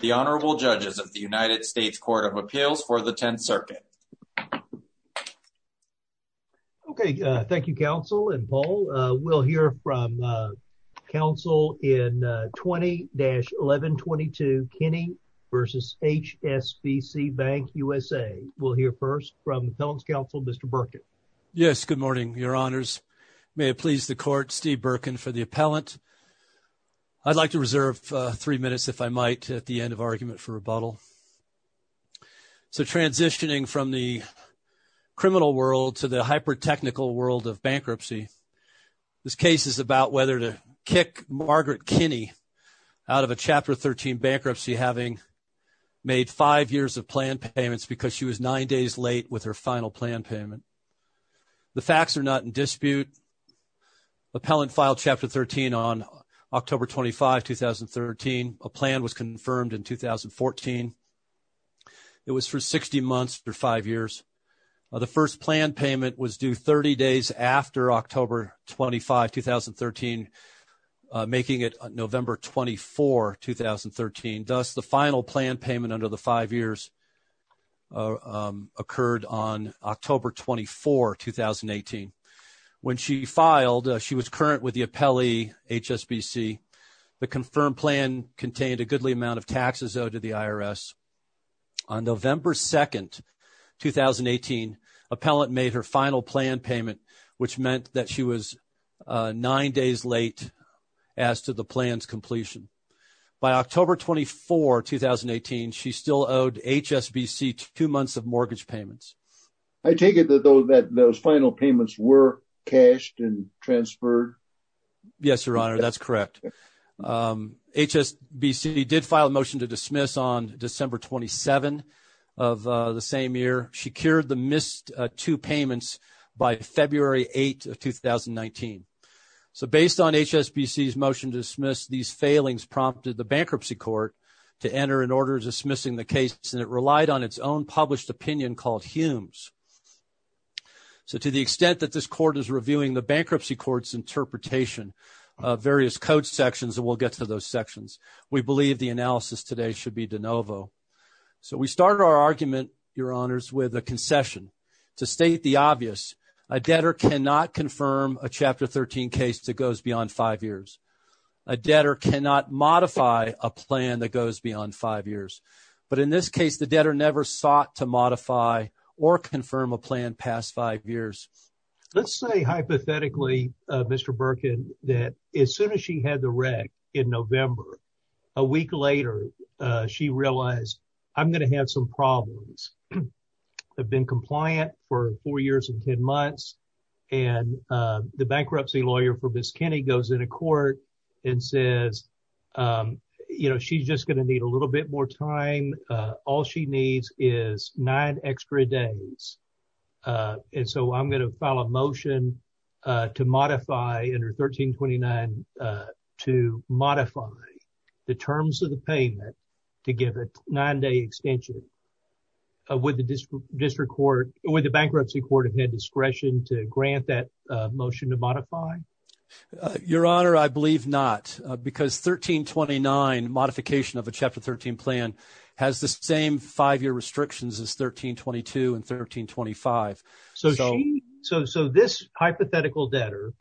The Honorable Judges of the United States Court of Appeals for the 10th Circuit. Okay, thank you, Counsel and Paul. We'll hear from Counsel in 20-1122 Kenney v. HSBC Bank USA. We'll hear first from Appellant's Counsel, Mr. Burkett. Yes, good morning, Your Honors. May it please the Court, Steve Burkin for the Appellant. I'd like to reserve three minutes, if I might, at the end of argument for rebuttal. So transitioning from the criminal world to the hyper-technical world of bankruptcy, this case is about whether to kick Margaret Kenney out of a Chapter 13 bankruptcy, having made five years of plan payments because she was nine days late with her final plan payment. The facts are not in dispute. Appellant filed Chapter 13 on October 25, 2013. A plan was confirmed in 2014. It was for 60 months or five years. The first plan payment was due 30 days after October 25, 2013, making it November 24, 2013. Thus, the final plan payment under the five years occurred on October 24, 2018. When she filed, she was current with the appellee, HSBC. The confirmed plan contained a goodly amount of taxes owed to the IRS. On November 2, 2018, Appellant made her final plan payment, which meant that she was nine days late as to the plan's completion. By October 24, 2018, she still owed HSBC two months of mortgage payments. I take it that those final payments were cashed and transferred? Yes, Your Honor, that's correct. HSBC did file a motion to dismiss on December 27 of the same year. She cured the missed two payments by February 8 of 2019. So based on HSBC's motion to dismiss, these failings prompted the bankruptcy court to enter an order dismissing the case. And it relied on its own published opinion called Humes. So to the extent that this court is reviewing the bankruptcy court's interpretation of various code sections, we'll get to those sections. We believe the analysis today should be de novo. So we start our argument, Your Honors, with a concession to state the obvious. A debtor cannot confirm a Chapter 13 case that goes beyond five years. A debtor cannot modify a plan that goes beyond five years. But in this case, the debtor never sought to modify or confirm a plan past five years. Let's say hypothetically, Mr. Birkin, that as soon as she had the wreck in November, a week later, she realized, I'm going to have some problems. I've been compliant for four years and 10 months. And the bankruptcy lawyer for Miss Kenny goes into court and says, you know, she's just going to need a little bit more time. All she needs is nine extra days. And so I'm going to file a motion to modify under 1329 to modify the terms of the payment to give a nine day extension. Would the district court or the bankruptcy court have had discretion to grant that motion to modify? Your Honor, I believe not, because 1329 modification of a Chapter 13 plan has the same five year restrictions as 1322 and 1325. So so so this hypothetical debtor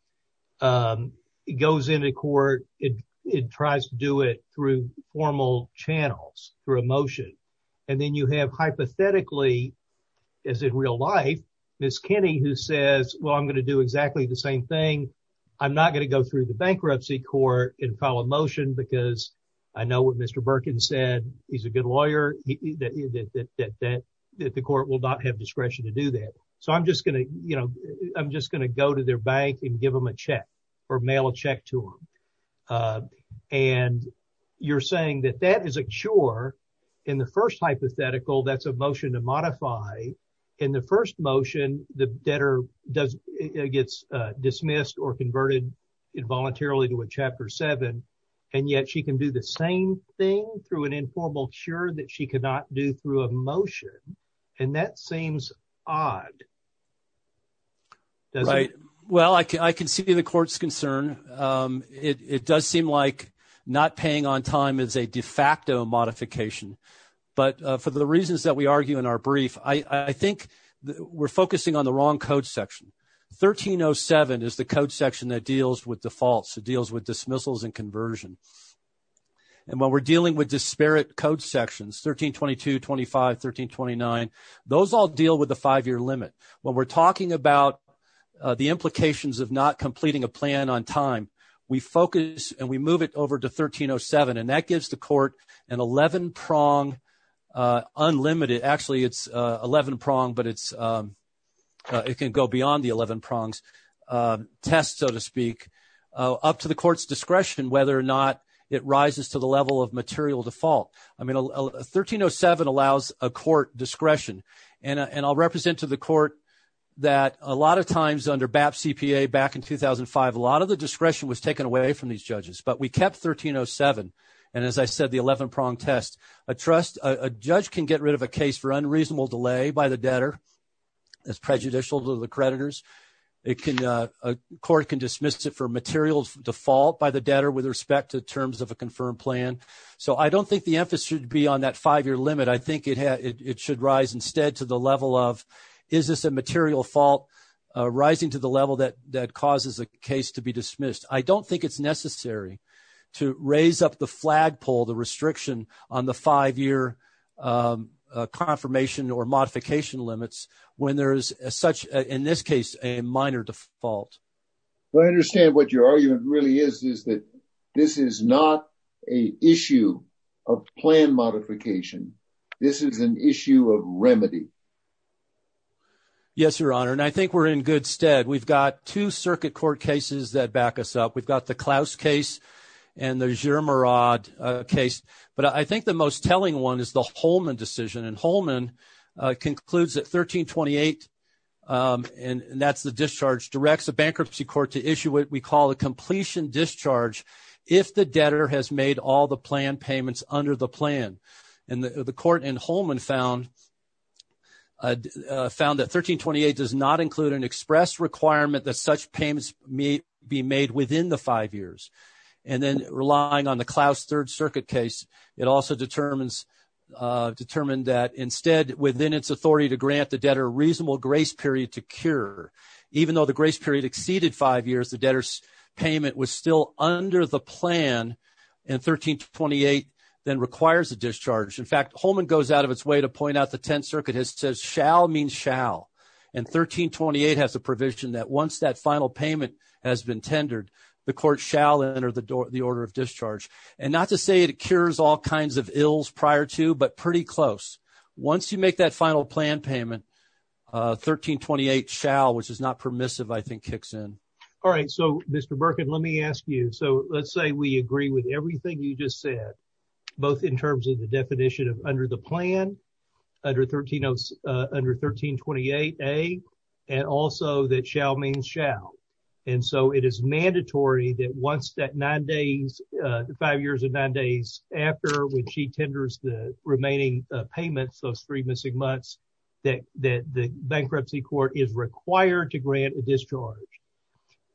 goes into court. It tries to do it through formal channels, through emotion. And then you have hypothetically, as in real life, Miss Kenny, who says, well, I'm going to do exactly the same thing. I'm not going to go through the bankruptcy court and file a motion because I know what Mr. Birkin said, he's a good lawyer, that the court will not have discretion to do that. So I'm just going to you know, I'm just going to go to their bank and give them a check or mail a check to them. And you're saying that that is a chore in the first hypothetical. That's a motion to modify in the first motion. The debtor does gets dismissed or converted involuntarily to a Chapter seven. And yet she can do the same thing through an informal. Sure, that she could not do through a motion. And that seems odd. Right. Well, I can see the court's concern. It does seem like not paying on time is a de facto modification. But for the reasons that we argue in our brief, I think we're focusing on the wrong code section. Thirteen oh seven is the code section that deals with defaults, deals with dismissals and conversion. And when we're dealing with disparate code sections, 13, 22, 25, 13, 29, those all deal with the five year limit. When we're talking about the implications of not completing a plan on time, we focus and we move it over to 13 oh seven. And that gives the court an 11 prong unlimited. Actually, it's 11 prong, but it's it can go beyond the 11 prongs test, so to speak, up to the court's discretion, whether or not it rises to the level of material default. I mean, 13 oh seven allows a court discretion. And I'll represent to the court that a lot of times under BAP CPA back in 2005, a lot of the discretion was taken away from these judges. But we kept 13 oh seven. And as I said, the 11 prong test, a trust, a judge can get rid of a case for unreasonable delay by the debtor. It's prejudicial to the creditors. It can a court can dismiss it for materials default by the debtor with respect to terms of a confirmed plan. So I don't think the emphasis should be on that five year limit. I think it had it should rise instead to the level of is this a material fault rising to the level that that causes a case to be dismissed? I don't think it's necessary to raise up the flagpole, the restriction on the five year confirmation or modification limits when there is such, in this case, a minor default. I understand what your argument really is, is that this is not a issue of plan modification. This is an issue of remedy. Yes, Your Honor. And I think we're in good stead. We've got two circuit court cases that back us up. We've got the Klaus case and there's your Murad case. But I think the most telling one is the Holman decision and Holman concludes at 1328. And that's the discharge directs a bankruptcy court to issue what we call a completion discharge. If the debtor has made all the plan payments under the plan and the court and Holman found. Found that 1328 does not include an express requirement that such payments may be made within the five years and then relying on the Klaus third circuit case. It also determines determined that instead within its authority to grant the debtor reasonable grace period to cure. Even though the grace period exceeded five years, the debtor's payment was still under the plan and 1328 then requires a discharge. In fact, Holman goes out of its way to point out the 10th Circuit has says shall means shall. And 1328 has a provision that once that final payment has been tendered, the court shall enter the door, the order of discharge. And not to say it cures all kinds of ills prior to, but pretty close. Once you make that final plan payment, 1328 shall, which is not permissive, I think, kicks in. All right. So, Mr. Birkin, let me ask you. So let's say we agree with everything you just said, both in terms of the definition of under the plan.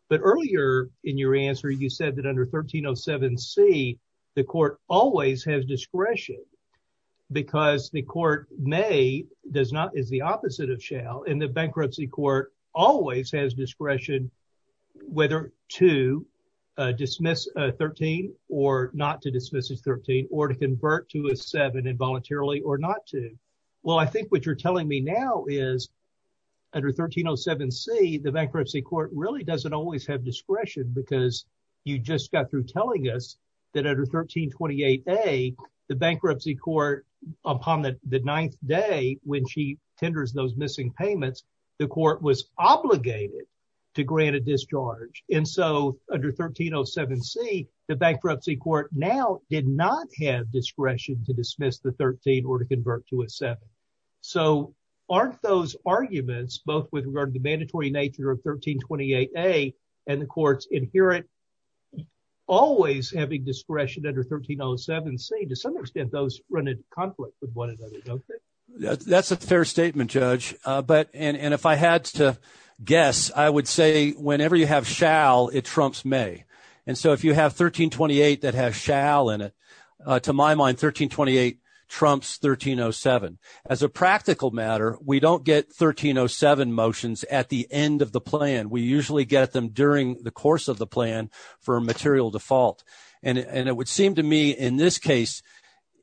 But earlier in your answer, you said that under 1307 C, the court always has discretion because the court has discretion to grant a discharge. May does not is the opposite of shall in the bankruptcy court always has discretion, whether to dismiss 13 or not to dismiss 13 or to convert to a seven involuntarily or not to. Well, I think what you're telling me now is under 1307 C, the bankruptcy court really doesn't always have discretion because you just got through telling us that under 1328 A, the bankruptcy court upon the ninth day when she tenders those missing payments, the court was obligated to grant a discharge. And so under 1307 C, the bankruptcy court now did not have discretion to dismiss the 13 or to convert to a seven. So aren't those arguments, both with regard to the mandatory nature of 1328 A and the courts inherent, always having discretion under 1307 C, to some extent, those run into conflict with one another. That's a fair statement, Judge. But and if I had to guess, I would say whenever you have shall, it trumps may. And so if you have 1328 that has shall in it, to my mind, 1328 trumps 1307. As a practical matter, we don't get 1307 motions at the end of the plan. We usually get them during the course of the plan for a material default. And it would seem to me in this case,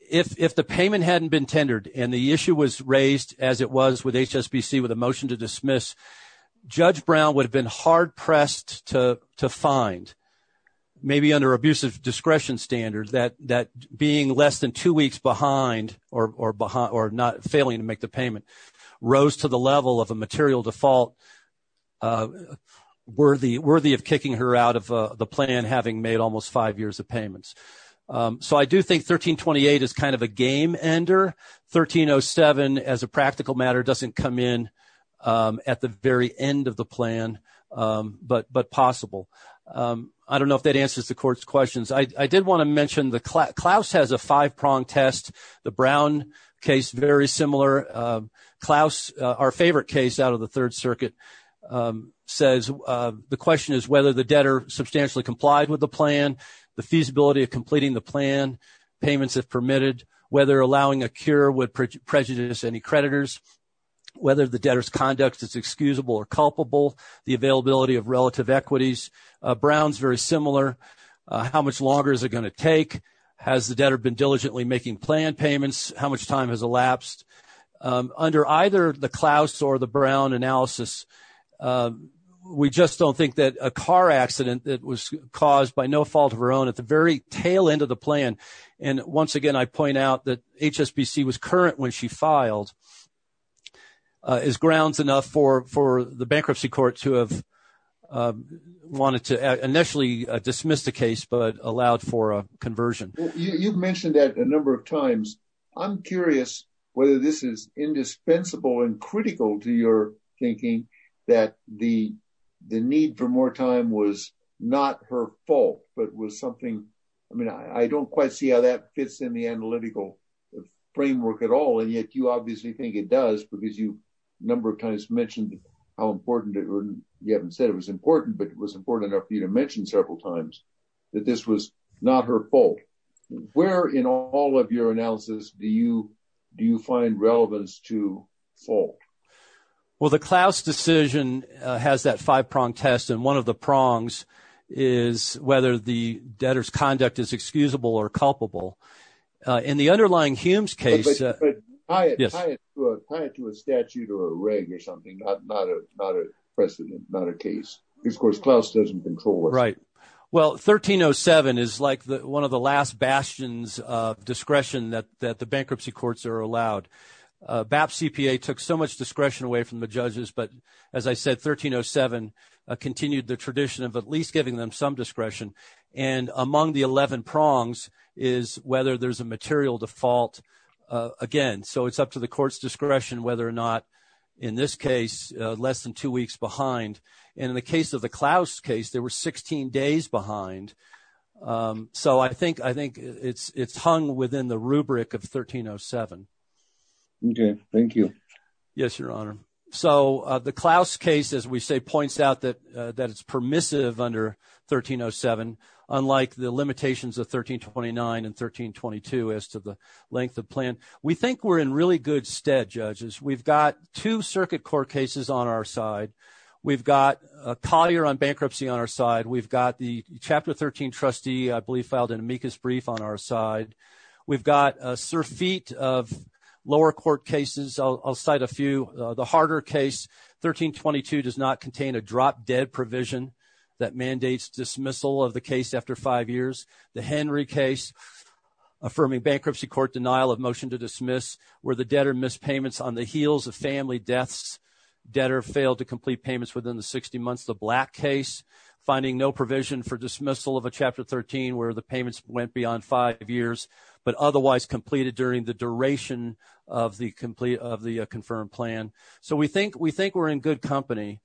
if the payment hadn't been tendered and the issue was raised as it was with HSBC with a motion to dismiss, Judge Brown would have been hard-pressed to find, maybe under abusive discretion standards, that being less than two weeks behind or not failing to make the payment rose to the level of a material default worthy of kicking her out of the plan having made almost five payments. So I do think 1328 is kind of a game-ender. 1307, as a practical matter, doesn't come in at the very end of the plan, but possible. I don't know if that answers the Court's questions. I did want to mention Klaus has a five-prong test. The Brown case, very similar. Klaus, our favorite case out of the Third Circuit, says the question is whether the debtor substantially complied with the plan, the feasibility of completing the plan, payments if permitted, whether allowing a cure would prejudice any creditors, whether the debtor's conduct is excusable or culpable, the availability of relative equities. Brown's very similar. How much longer is it going to take? Has the debtor been diligently making planned payments? How much time has elapsed? Under either the Klaus or the Brown analysis, we just don't think that a car accident that was caused by no fault of her own at the very tail end of the plan, and once again, I point out that HSBC was current when she filed, is grounds enough for the bankruptcy court to have, wanted to initially dismiss the case, but allowed for a conversion. You've mentioned that a number of times. I'm curious whether this is indispensable and critical to your thinking that the need for more time was not her fault, but was something, I mean, I don't quite see how that fits in the analytical framework at all, and yet you obviously think it does, because you a number of times mentioned how important, or you haven't said it was important, but it was important enough for you to mention several times that this was not her fault. Where in all of your analysis do you find relevance to fault? Well, the Klaus decision has that five-prong test, and one of the prongs is whether the debtor's conduct is excusable or culpable. In the underlying Humes case… But tie it to a statute or a reg or something, not a precedent, not a case. Of course, Klaus doesn't control it. Right. Well, 1307 is like one of the last bastions of discretion that the bankruptcy courts are allowed. BAP CPA took so much discretion away from the judges, but as I said, 1307 continued the tradition of at least giving them some discretion. And among the 11 prongs is whether there's a material default again. So it's up to the court's discretion whether or not, in this case, less than two weeks behind. And in the case of the Klaus case, they were 16 days behind. So I think it's hung within the rubric of 1307. Okay. Thank you. Yes, Your Honor. So the Klaus case, as we say, points out that it's permissive under 1307, unlike the limitations of 1329 and 1322 as to the length of plan. We think we're in really good stead, judges. We've got two circuit court cases on our side. We've got Collier on bankruptcy on our side. We've got the Chapter 13 trustee, I believe, filed an amicus brief on our side. We've got a surfeit of lower court cases. I'll cite a few. The harder case, 1322, does not contain a drop-dead provision that mandates dismissal of the case after five years. The Henry case, affirming bankruptcy court denial of motion to dismiss, where the debtor missed payments on the heels of family deaths. Debtor failed to complete payments within the 60 months. The Black case, finding no provision for dismissal of a Chapter 13 where the payments went beyond five years, but otherwise completed during the duration of the confirmed plan. So we think we're in good company.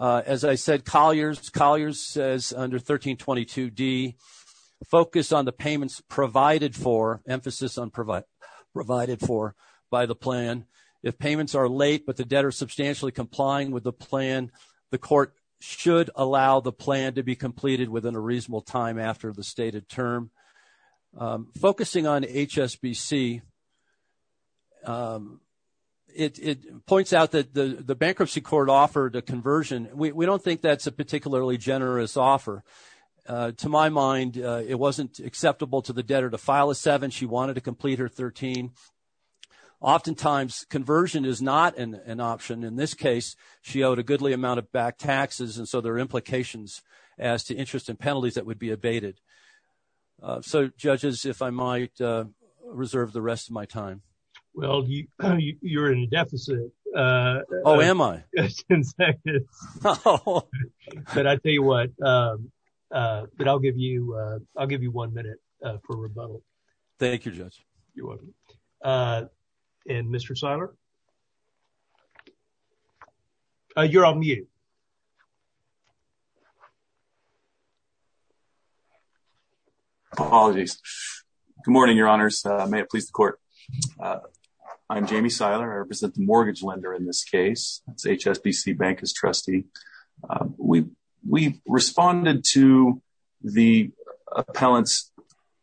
As I said, Collier says under 1322D, focus on the payments provided for, emphasis on provided for, by the plan. If payments are late but the debtor is substantially complying with the plan, the court should allow the plan to be completed within a reasonable time after the stated term. Focusing on HSBC, it points out that the bankruptcy court offered a conversion. We don't think that's a particularly generous offer. To my mind, it wasn't acceptable to the debtor to file a 7. She wanted to complete her 13. Oftentimes, conversion is not an option. In this case, she owed a goodly amount of back taxes. And so there are implications as to interest and penalties that would be abated. So, judges, if I might reserve the rest of my time. Well, you're in deficit. Oh, am I? But I'll tell you what. But I'll give you I'll give you one minute for rebuttal. Thank you, Judge. And Mr. Seiler. You're on mute. Apologies. Good morning, Your Honors. May it please the court. I'm Jamie Seiler. I represent the mortgage lender in this case. It's HSBC Bank as trustee. We responded to the appellant's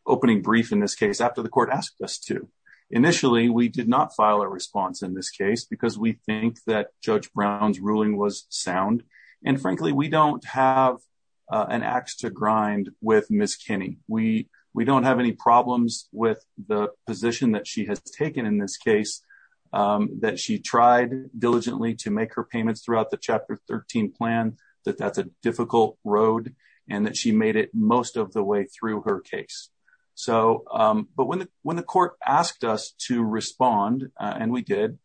opening brief in this case after the court asked us to. Initially, we did not file a response in this case because we think that Judge Brown's ruling was sound. And frankly, we don't have an ax to grind with Miss Kenny. We don't have any problems with the position that she has taken in this case, that she tried diligently to make her payments throughout the Chapter 13 plan, that that's a difficult road and that she made it most of the way through her case. But when the court asked us to respond and we did,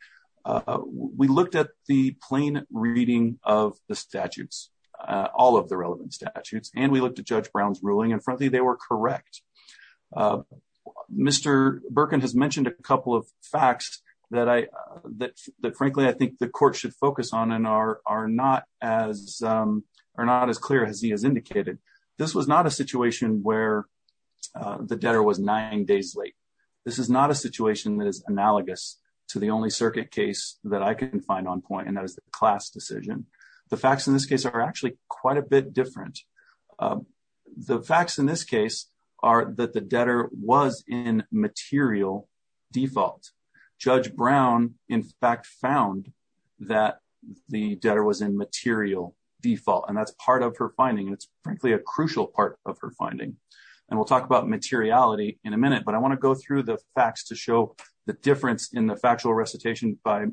we looked at the plain reading of the statutes, all of the relevant statutes, and we looked at Judge Brown's ruling. And frankly, they were correct. Mr. Birkin has mentioned a couple of facts that I that frankly, I think the court should focus on and are not as are not as clear as he has indicated. This was not a situation where the debtor was nine days late. This is not a situation that is analogous to the only circuit case that I can find on point. And that was the class decision. The facts in this case are actually quite a bit different. The facts in this case are that the debtor was in material default. Judge Brown, in fact, found that the debtor was in material default. And that's part of her finding. It's frankly, a crucial part of her finding. And we'll talk about materiality in a minute. But I want to go through the facts to show the difference in the factual recitation by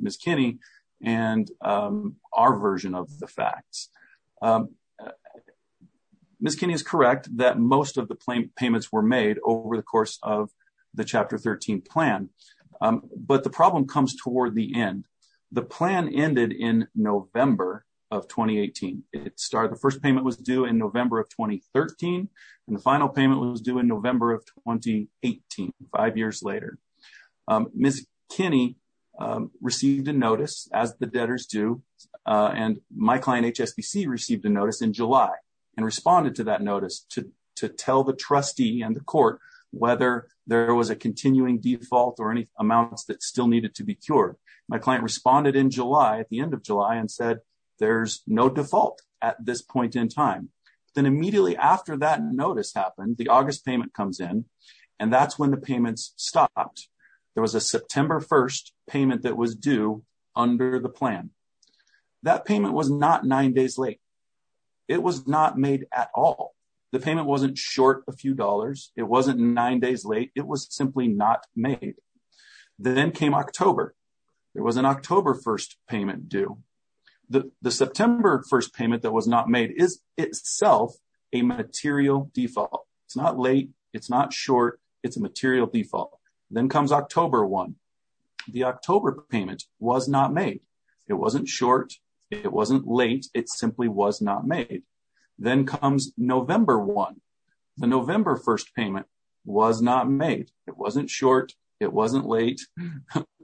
Miss Kenny and our version of the facts. Miss Kenny is correct that most of the payments were made over the course of the chapter 13 plan. But the problem comes toward the end. The plan ended in November of twenty eighteen. It started the first payment was due in November of twenty thirteen. And the final payment was due in November of twenty eighteen. Miss Kenny received a notice as the debtors do. And my client, HSBC, received a notice in July and responded to that notice to to tell the trustee and the court whether there was a continuing default or any amounts that still needed to be cured. My client responded in July at the end of July and said there's no default at this point in time. Then immediately after that notice happened, the August payment comes in and that's when the payments stopped. There was a September 1st payment that was due under the plan. That payment was not nine days late. It was not made at all. The payment wasn't short a few dollars. It wasn't nine days late. It was simply not made. Then came October. There was an October 1st payment due. The September 1st payment that was not made is itself a material default. It's not late. It's not short. It's a material default. Then comes October one. The October payment was not made. It wasn't short. It wasn't late. It simply was not made. Then comes November one. The November 1st payment was not made. It wasn't short. It wasn't late.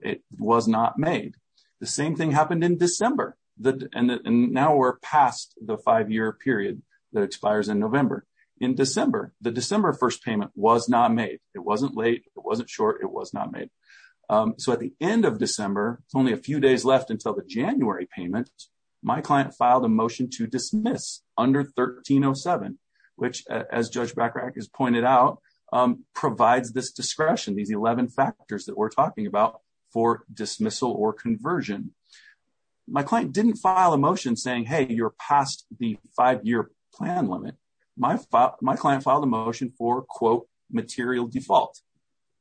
It was not made. The same thing happened in December. Now we're past the five-year period that expires in November. In December, the December 1st payment was not made. It wasn't late. It wasn't short. It was not made. At the end of December, only a few days left until the January payment, my client filed a motion to dismiss under 1307, which, as Judge Bachrach has pointed out, provides this discretion, these 11 factors that we're talking about for dismissal or conversion. My client didn't file a motion saying, hey, you're past the five-year plan limit. My client filed a motion for, quote, material default.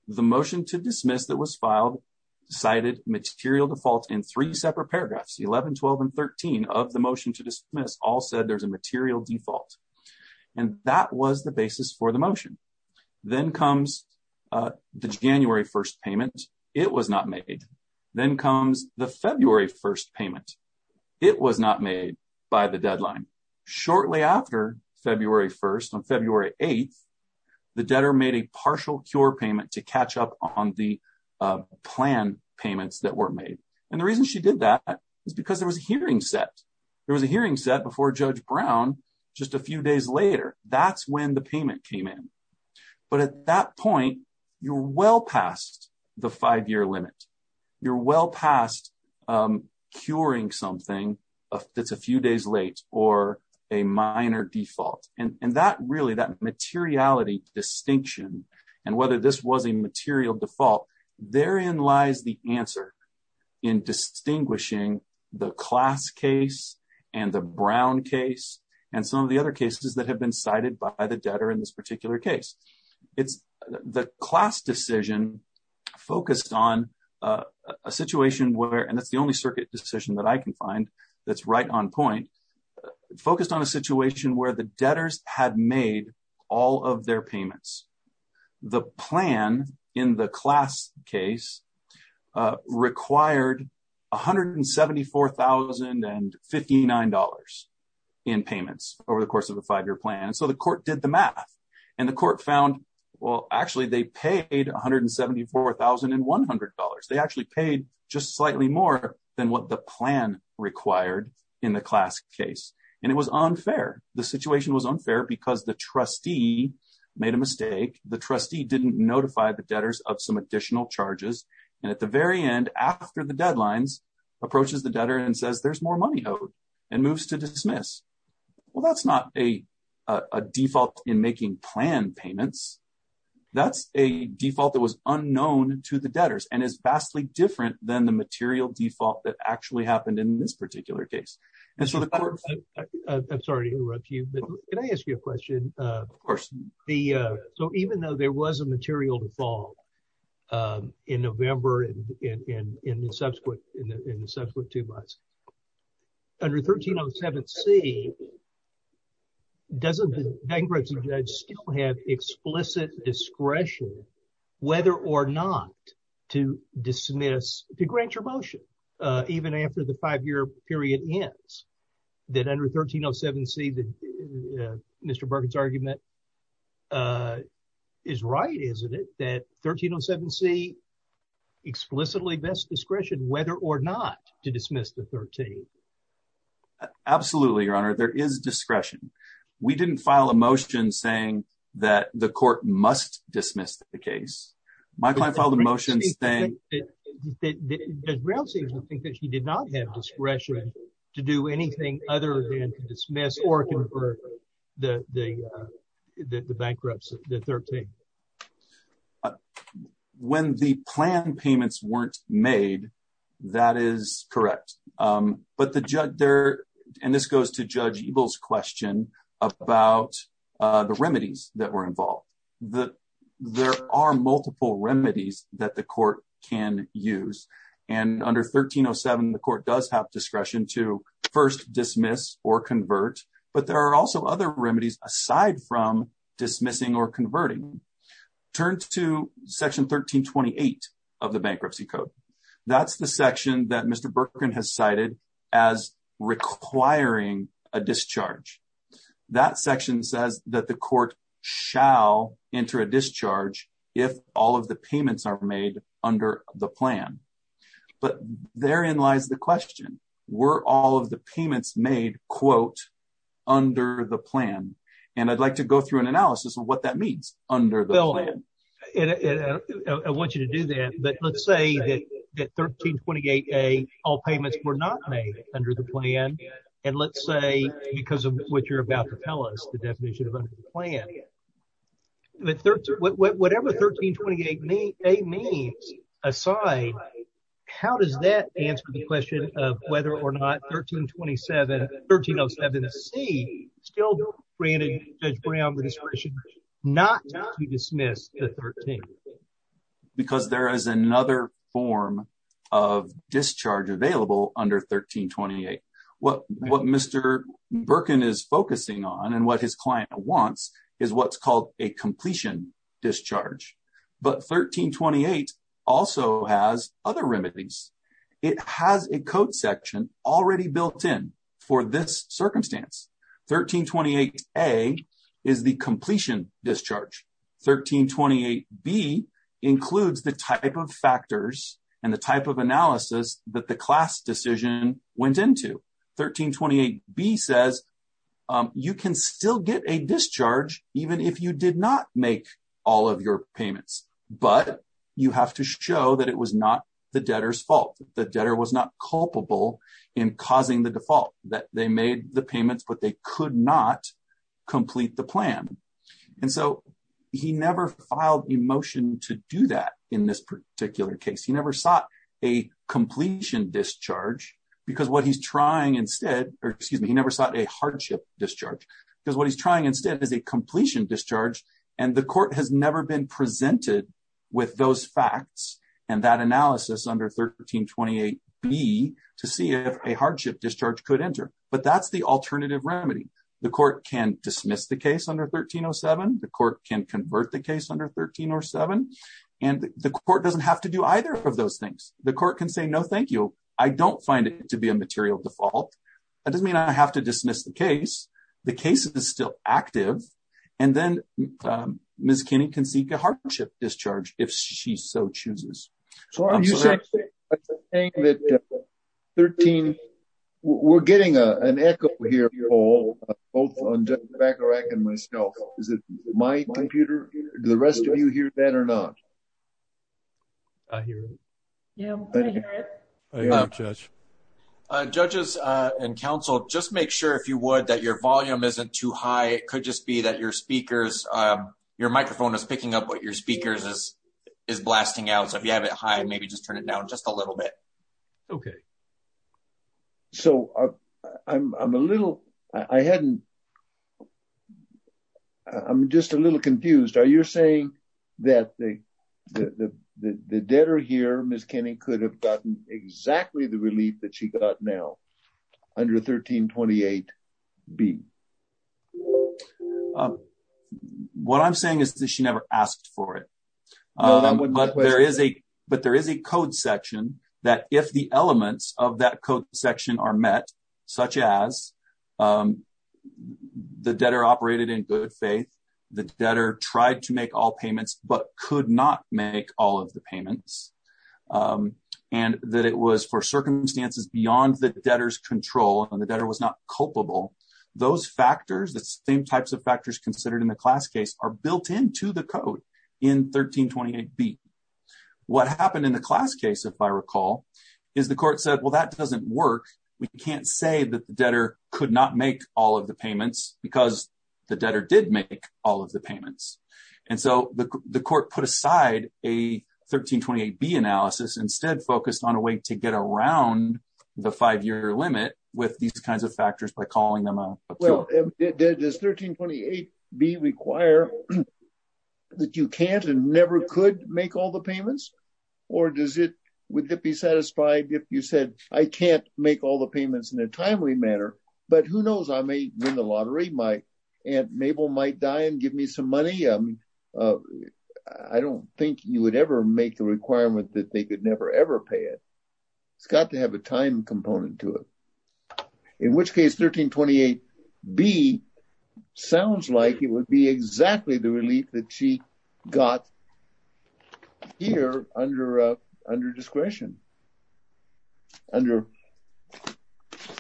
The motion to dismiss that was filed cited material default in three separate paragraphs, 11, 12, and 13 of the motion to dismiss all said there's a material default. And that was the basis for the motion. Then comes the January 1st payment. It was not made. Then comes the February 1st payment. It was not made by the deadline. Shortly after February 1st, on February 8th, the debtor made a partial cure payment to catch up on the plan payments that were made. And the reason she did that is because there was a hearing set. There was a hearing set before Judge Brown just a few days later. That's when the payment came in. But at that point, you're well past the five-year limit. You're well past curing something that's a few days late or a minor default. And that really, that materiality distinction and whether this was a material default, therein lies the answer in distinguishing the class case and the Brown case and some of the other cases that have been cited by the debtor in this particular case. The class decision focused on a situation where, and that's the only circuit decision that I can find that's right on point, focused on a situation where the debtors had made all of their payments. The plan in the class case required $174,059 in payments over the course of the five-year plan. And so the court did the math. And the court found, well, actually, they paid $174,100. They actually paid just slightly more than what the plan required in the class case. And it was unfair. The situation was unfair because the trustee made a mistake. The trustee didn't notify the debtors of some additional charges. And at the very end, after the deadlines, approaches the debtor and says, there's more money owed and moves to dismiss. Well, that's not a default in making plan payments. That's a default that was unknown to the debtors and is vastly different than the material default that actually happened in this particular case. I'm sorry to interrupt you, but can I ask you a question? Of course. So even though there was a material default in November and in the subsequent two months, under 1307C, doesn't the bankruptcy judge still have explicit discretion whether or not to dismiss, to grant your motion even after the five-year period ends? That under 1307C, Mr. Bergen's argument is right, isn't it? That 1307C explicitly best discretion whether or not to dismiss the 13th. Absolutely, Your Honor. There is discretion. We didn't file a motion saying that the court must dismiss the case. My client filed a motion saying... Does Brown say something that she did not have discretion to do anything other than to dismiss or convert the bankruptcy, the 13th? When the plan payments weren't made, that is correct. But the judge there, and this goes to Judge Eagle's question about the remedies that were involved. There are multiple remedies that the court can use. And under 1307, the court does have discretion to first dismiss or convert. But there are also other remedies aside from dismissing or converting. Turn to Section 1328 of the Bankruptcy Code. That's the section that Mr. Bergen has cited as requiring a discharge. That section says that the court shall enter a discharge if all of the payments are made under the plan. But therein lies the question. Were all of the payments made, quote, under the plan? And I'd like to go through an analysis of what that means, under the plan. Bill, I want you to do that. But let's say that 1328A, all payments were not made under the plan. And let's say, because of what you're about to tell us, the definition of under the plan. Whatever 1328A means aside, how does that answer the question of whether or not 1307C still granted Judge Brown the discretion not to dismiss the 13th? Because there is another form of discharge available under 1328. What Mr. Bergen is focusing on and what his client wants is what's called a completion discharge. But 1328 also has other remedies. It has a code section already built in for this circumstance. 1328A is the completion discharge. 1328B includes the type of factors and the type of analysis that the class decision went into. 1328B says you can still get a discharge even if you did not make all of your payments. But you have to show that it was not the debtor's fault. The debtor was not culpable in causing the default. That they made the payments, but they could not complete the plan. And so he never filed a motion to do that in this particular case. He never sought a completion discharge because what he's trying instead, or excuse me, he never sought a hardship discharge. Because what he's trying instead is a completion discharge. And the court has never been presented with those facts and that analysis under 1328B to see if a hardship discharge could enter. But that's the alternative remedy. The court can dismiss the case under 1307. The court can convert the case under 1307. And the court doesn't have to do either of those things. The court can say, no, thank you. I don't find it to be a material default. That doesn't mean I have to dismiss the case. The case is still active. And then Ms. Kinney can seek a hardship discharge if she so chooses. So are you saying that 13. We're getting an echo here, Paul, both on Judge Bakarach and myself. Is it my computer? Do the rest of you hear that or not? I hear it. Yeah, I hear it. I hear it, Judge. Judges and counsel, just make sure if you would that your volume isn't too high. It could just be that your speakers, your microphone is picking up what your speakers is blasting out. So if you have it high, maybe just turn it down just a little bit. Okay. So I'm a little, I hadn't, I'm just a little confused. Are you saying that the debtor here, Ms. Kinney could have gotten exactly the relief that she got now under 1328 B. What I'm saying is that she never asked for it. But there is a code section that if the elements of that code section are met, such as the debtor operated in good faith, the debtor tried to make all payments, but could not make all of the payments. And that it was for circumstances beyond the debtor's control and the debtor was not culpable. Those factors, the same types of factors considered in the class case are built into the code in 1328 B. What happened in the class case, if I recall, is the court said, well, that doesn't work. We can't say that the debtor could not make all of the payments because the debtor did make all of the payments. And so the court put aside a 1328 B analysis instead focused on a way to get around the five-year limit with these kinds of factors by calling them out. Well, does 1328 B require that you can't and never could make all the payments? Or does it, would it be satisfied if you said I can't make all the payments in a timely manner? But who knows, I may win the lottery. My Aunt Mabel might die and give me some money. I don't think you would ever make the requirement that they could never, ever pay it. It's got to have a time component to it. In which case, 1328 B sounds like it would be exactly the relief that she got here under discretion. Under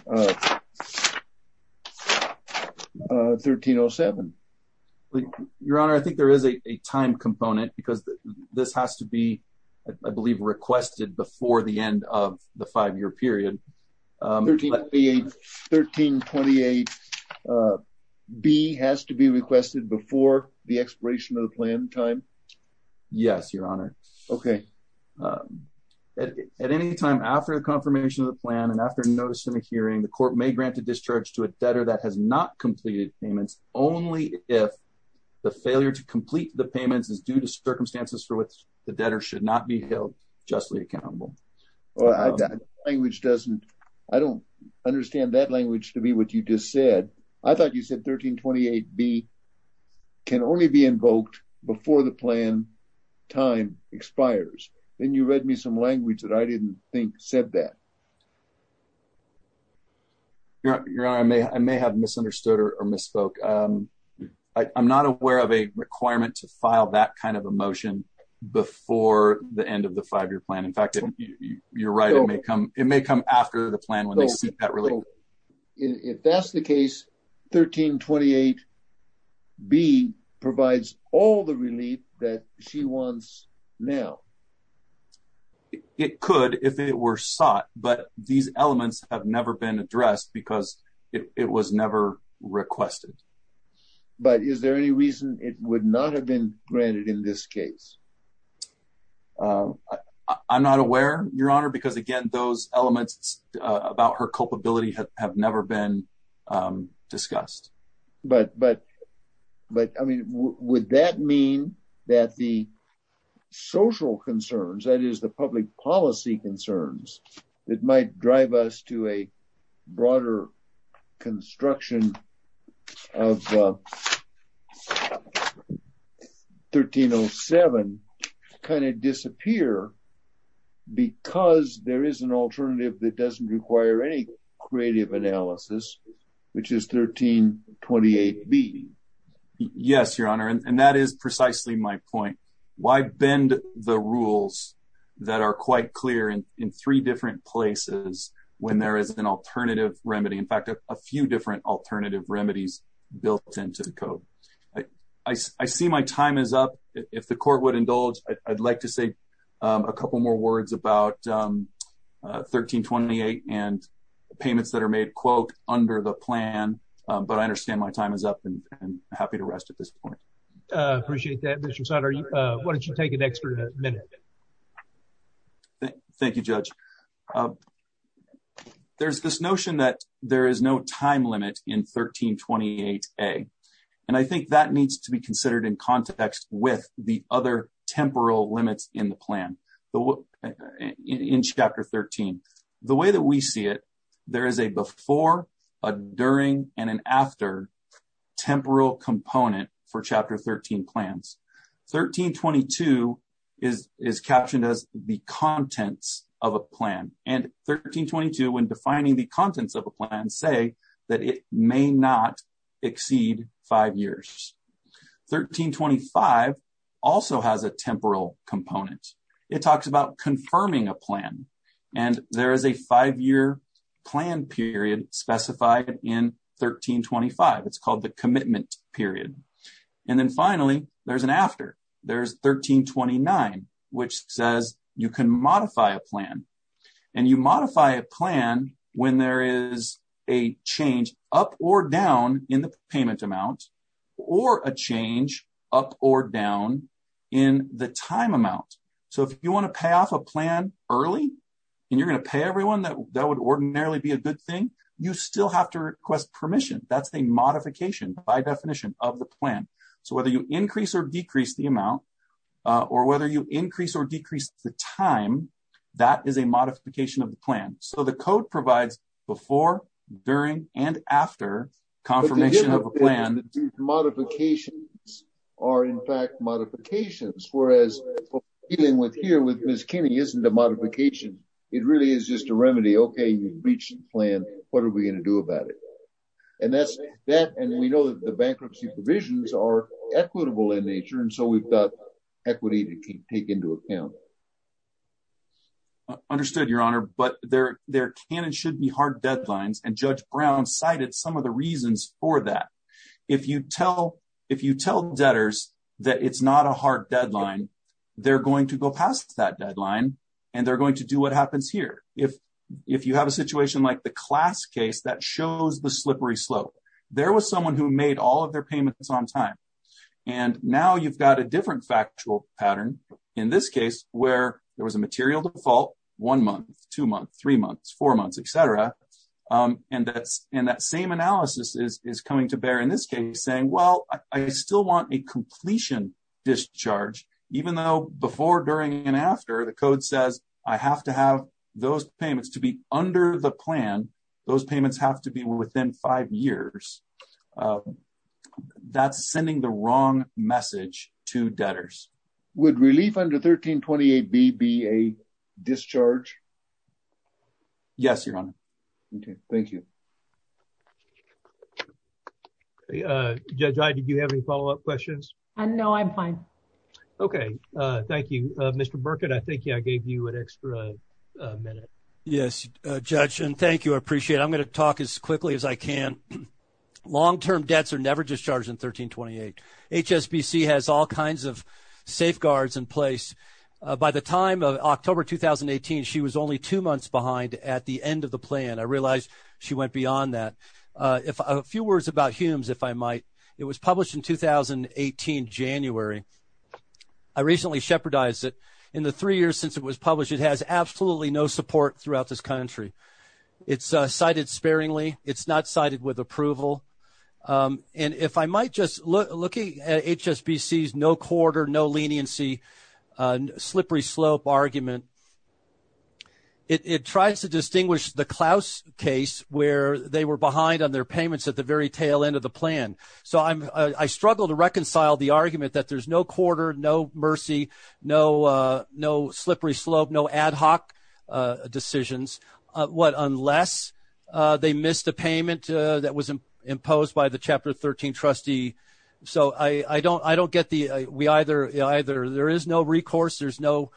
1307. Your Honor, I think there is a time component because this has to be, I believe, requested before the end of the five-year period. 1328 B has to be requested before the expiration of the plan time? Yes, Your Honor. Okay. At any time after the confirmation of the plan and after notice in a hearing, the court may grant a discharge to a debtor that has not completed payments only if the failure to complete the payments is due to circumstances for which the debtor should not be held justly accountable. I don't understand that language to be what you just said. I thought you said 1328 B can only be invoked before the plan time expires. Then you read me some language that I didn't think said that. Your Honor, I may have misunderstood or misspoke. I'm not aware of a requirement to file that kind of a motion before the end of the five-year plan. In fact, you're right. It may come after the plan when they seek that relief. If that's the case, 1328 B provides all the relief that she wants now. It could if it were sought, but these elements have never been addressed because it was never requested. But is there any reason it would not have been granted in this case? I'm not aware, Your Honor, because again, those elements about her culpability have never been discussed. But I mean, would that mean that the social concerns, that is the public policy concerns, that might drive us to a broader construction of 1307 kind of disappear? Because there is an alternative that doesn't require any creative analysis, which is 1328 B. Yes, Your Honor, and that is precisely my point. Why bend the rules that are quite clear in three different places when there is an alternative remedy? In fact, a few different alternative remedies built into the code. I see my time is up. If the court would indulge, I'd like to say a couple more words about 1328 and payments that are made, quote, under the plan. But I understand my time is up and happy to rest at this point. Appreciate that, Mr. Sutter. Why don't you take an extra minute? Thank you, Judge. There's this notion that there is no time limit in 1328 A. And I think that needs to be considered in context with the other temporal limits in the plan. In Chapter 13, the way that we see it, there is a before, a during and an after temporal component for Chapter 13 plans. 1322 is is captioned as the contents of a plan. And 1322, when defining the contents of a plan, say that it may not exceed five years. 1325 also has a temporal component. It talks about confirming a plan. And there is a five year plan period specified in 1325. It's called the commitment period. And then finally, there's an after. There's 1329, which says you can modify a plan. And you modify a plan when there is a change up or down in the payment amount or a change up or down in the time amount. So if you want to pay off a plan early and you're going to pay everyone, that would ordinarily be a good thing. You still have to request permission. That's the modification by definition of the plan. So whether you increase or decrease the amount or whether you increase or decrease the time, that is a modification of the plan. So the code provides before, during and after confirmation of a plan. Modifications are, in fact, modifications, whereas dealing with here with Miss Kinney isn't a modification. It really is just a remedy. OK, you've reached the plan. What are we going to do about it? And that's that. And we know that the bankruptcy provisions are equitable in nature. And so we've got equity to take into account. Understood, Your Honor. But there there can and should be hard deadlines. And Judge Brown cited some of the reasons for that. If you tell if you tell debtors that it's not a hard deadline, they're going to go past that deadline and they're going to do what happens here. If if you have a situation like the class case that shows the slippery slope, there was someone who made all of their payments on time. And now you've got a different factual pattern in this case where there was a material default one month, two months, three months, four months, et cetera. And that's in that same analysis is coming to bear in this case saying, well, I still want a completion discharge, even though before, during and after the code says I have to have those payments to be under the plan. Those payments have to be within five years. That's sending the wrong message to debtors. Would relief under 1328 be a discharge? Yes, Your Honor. Thank you. Judge, did you have any follow up questions? No, I'm fine. Okay. Thank you, Mr. Burkett. I think I gave you an extra minute. Yes, Judge. And thank you. I appreciate it. I'm going to talk as quickly as I can. Long-term debts are never discharged in 1328. HSBC has all kinds of safeguards in place. By the time of October 2018, she was only two months behind at the end of the plan. I realize she went beyond that. A few words about HUMES, if I might. It was published in 2018, January. I recently shepherdized it. In the three years since it was published, it has absolutely no support throughout this country. It's cited sparingly. It's not cited with approval. And if I might just look at HSBC's no quarter, no leniency, slippery slope argument, it tries to distinguish the Klaus case where they were behind on their payments at the very tail end of the plan. So I struggle to reconcile the argument that there's no quarter, no mercy, no slippery slope, no ad hoc decisions. What? Unless they missed a payment that was imposed by the Chapter 13 trustee. So I don't get the we either there is no recourse, there's no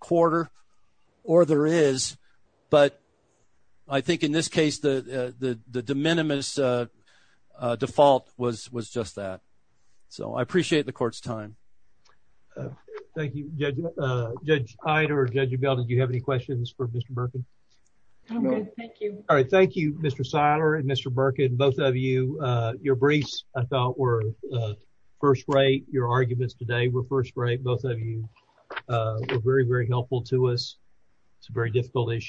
quarter, or there is. But I think in this case the de minimis default was just that. So I appreciate the court's time. Thank you, Judge Ida or Judge Abel. Do you have any questions for Mr. Birkin? I'm good, thank you. All right, thank you, Mr. Siler and Mr. Birkin. Both of you, your briefs I thought were first rate. Your arguments today were first rate. Both of you were very, very helpful to us. It's a very difficult issue.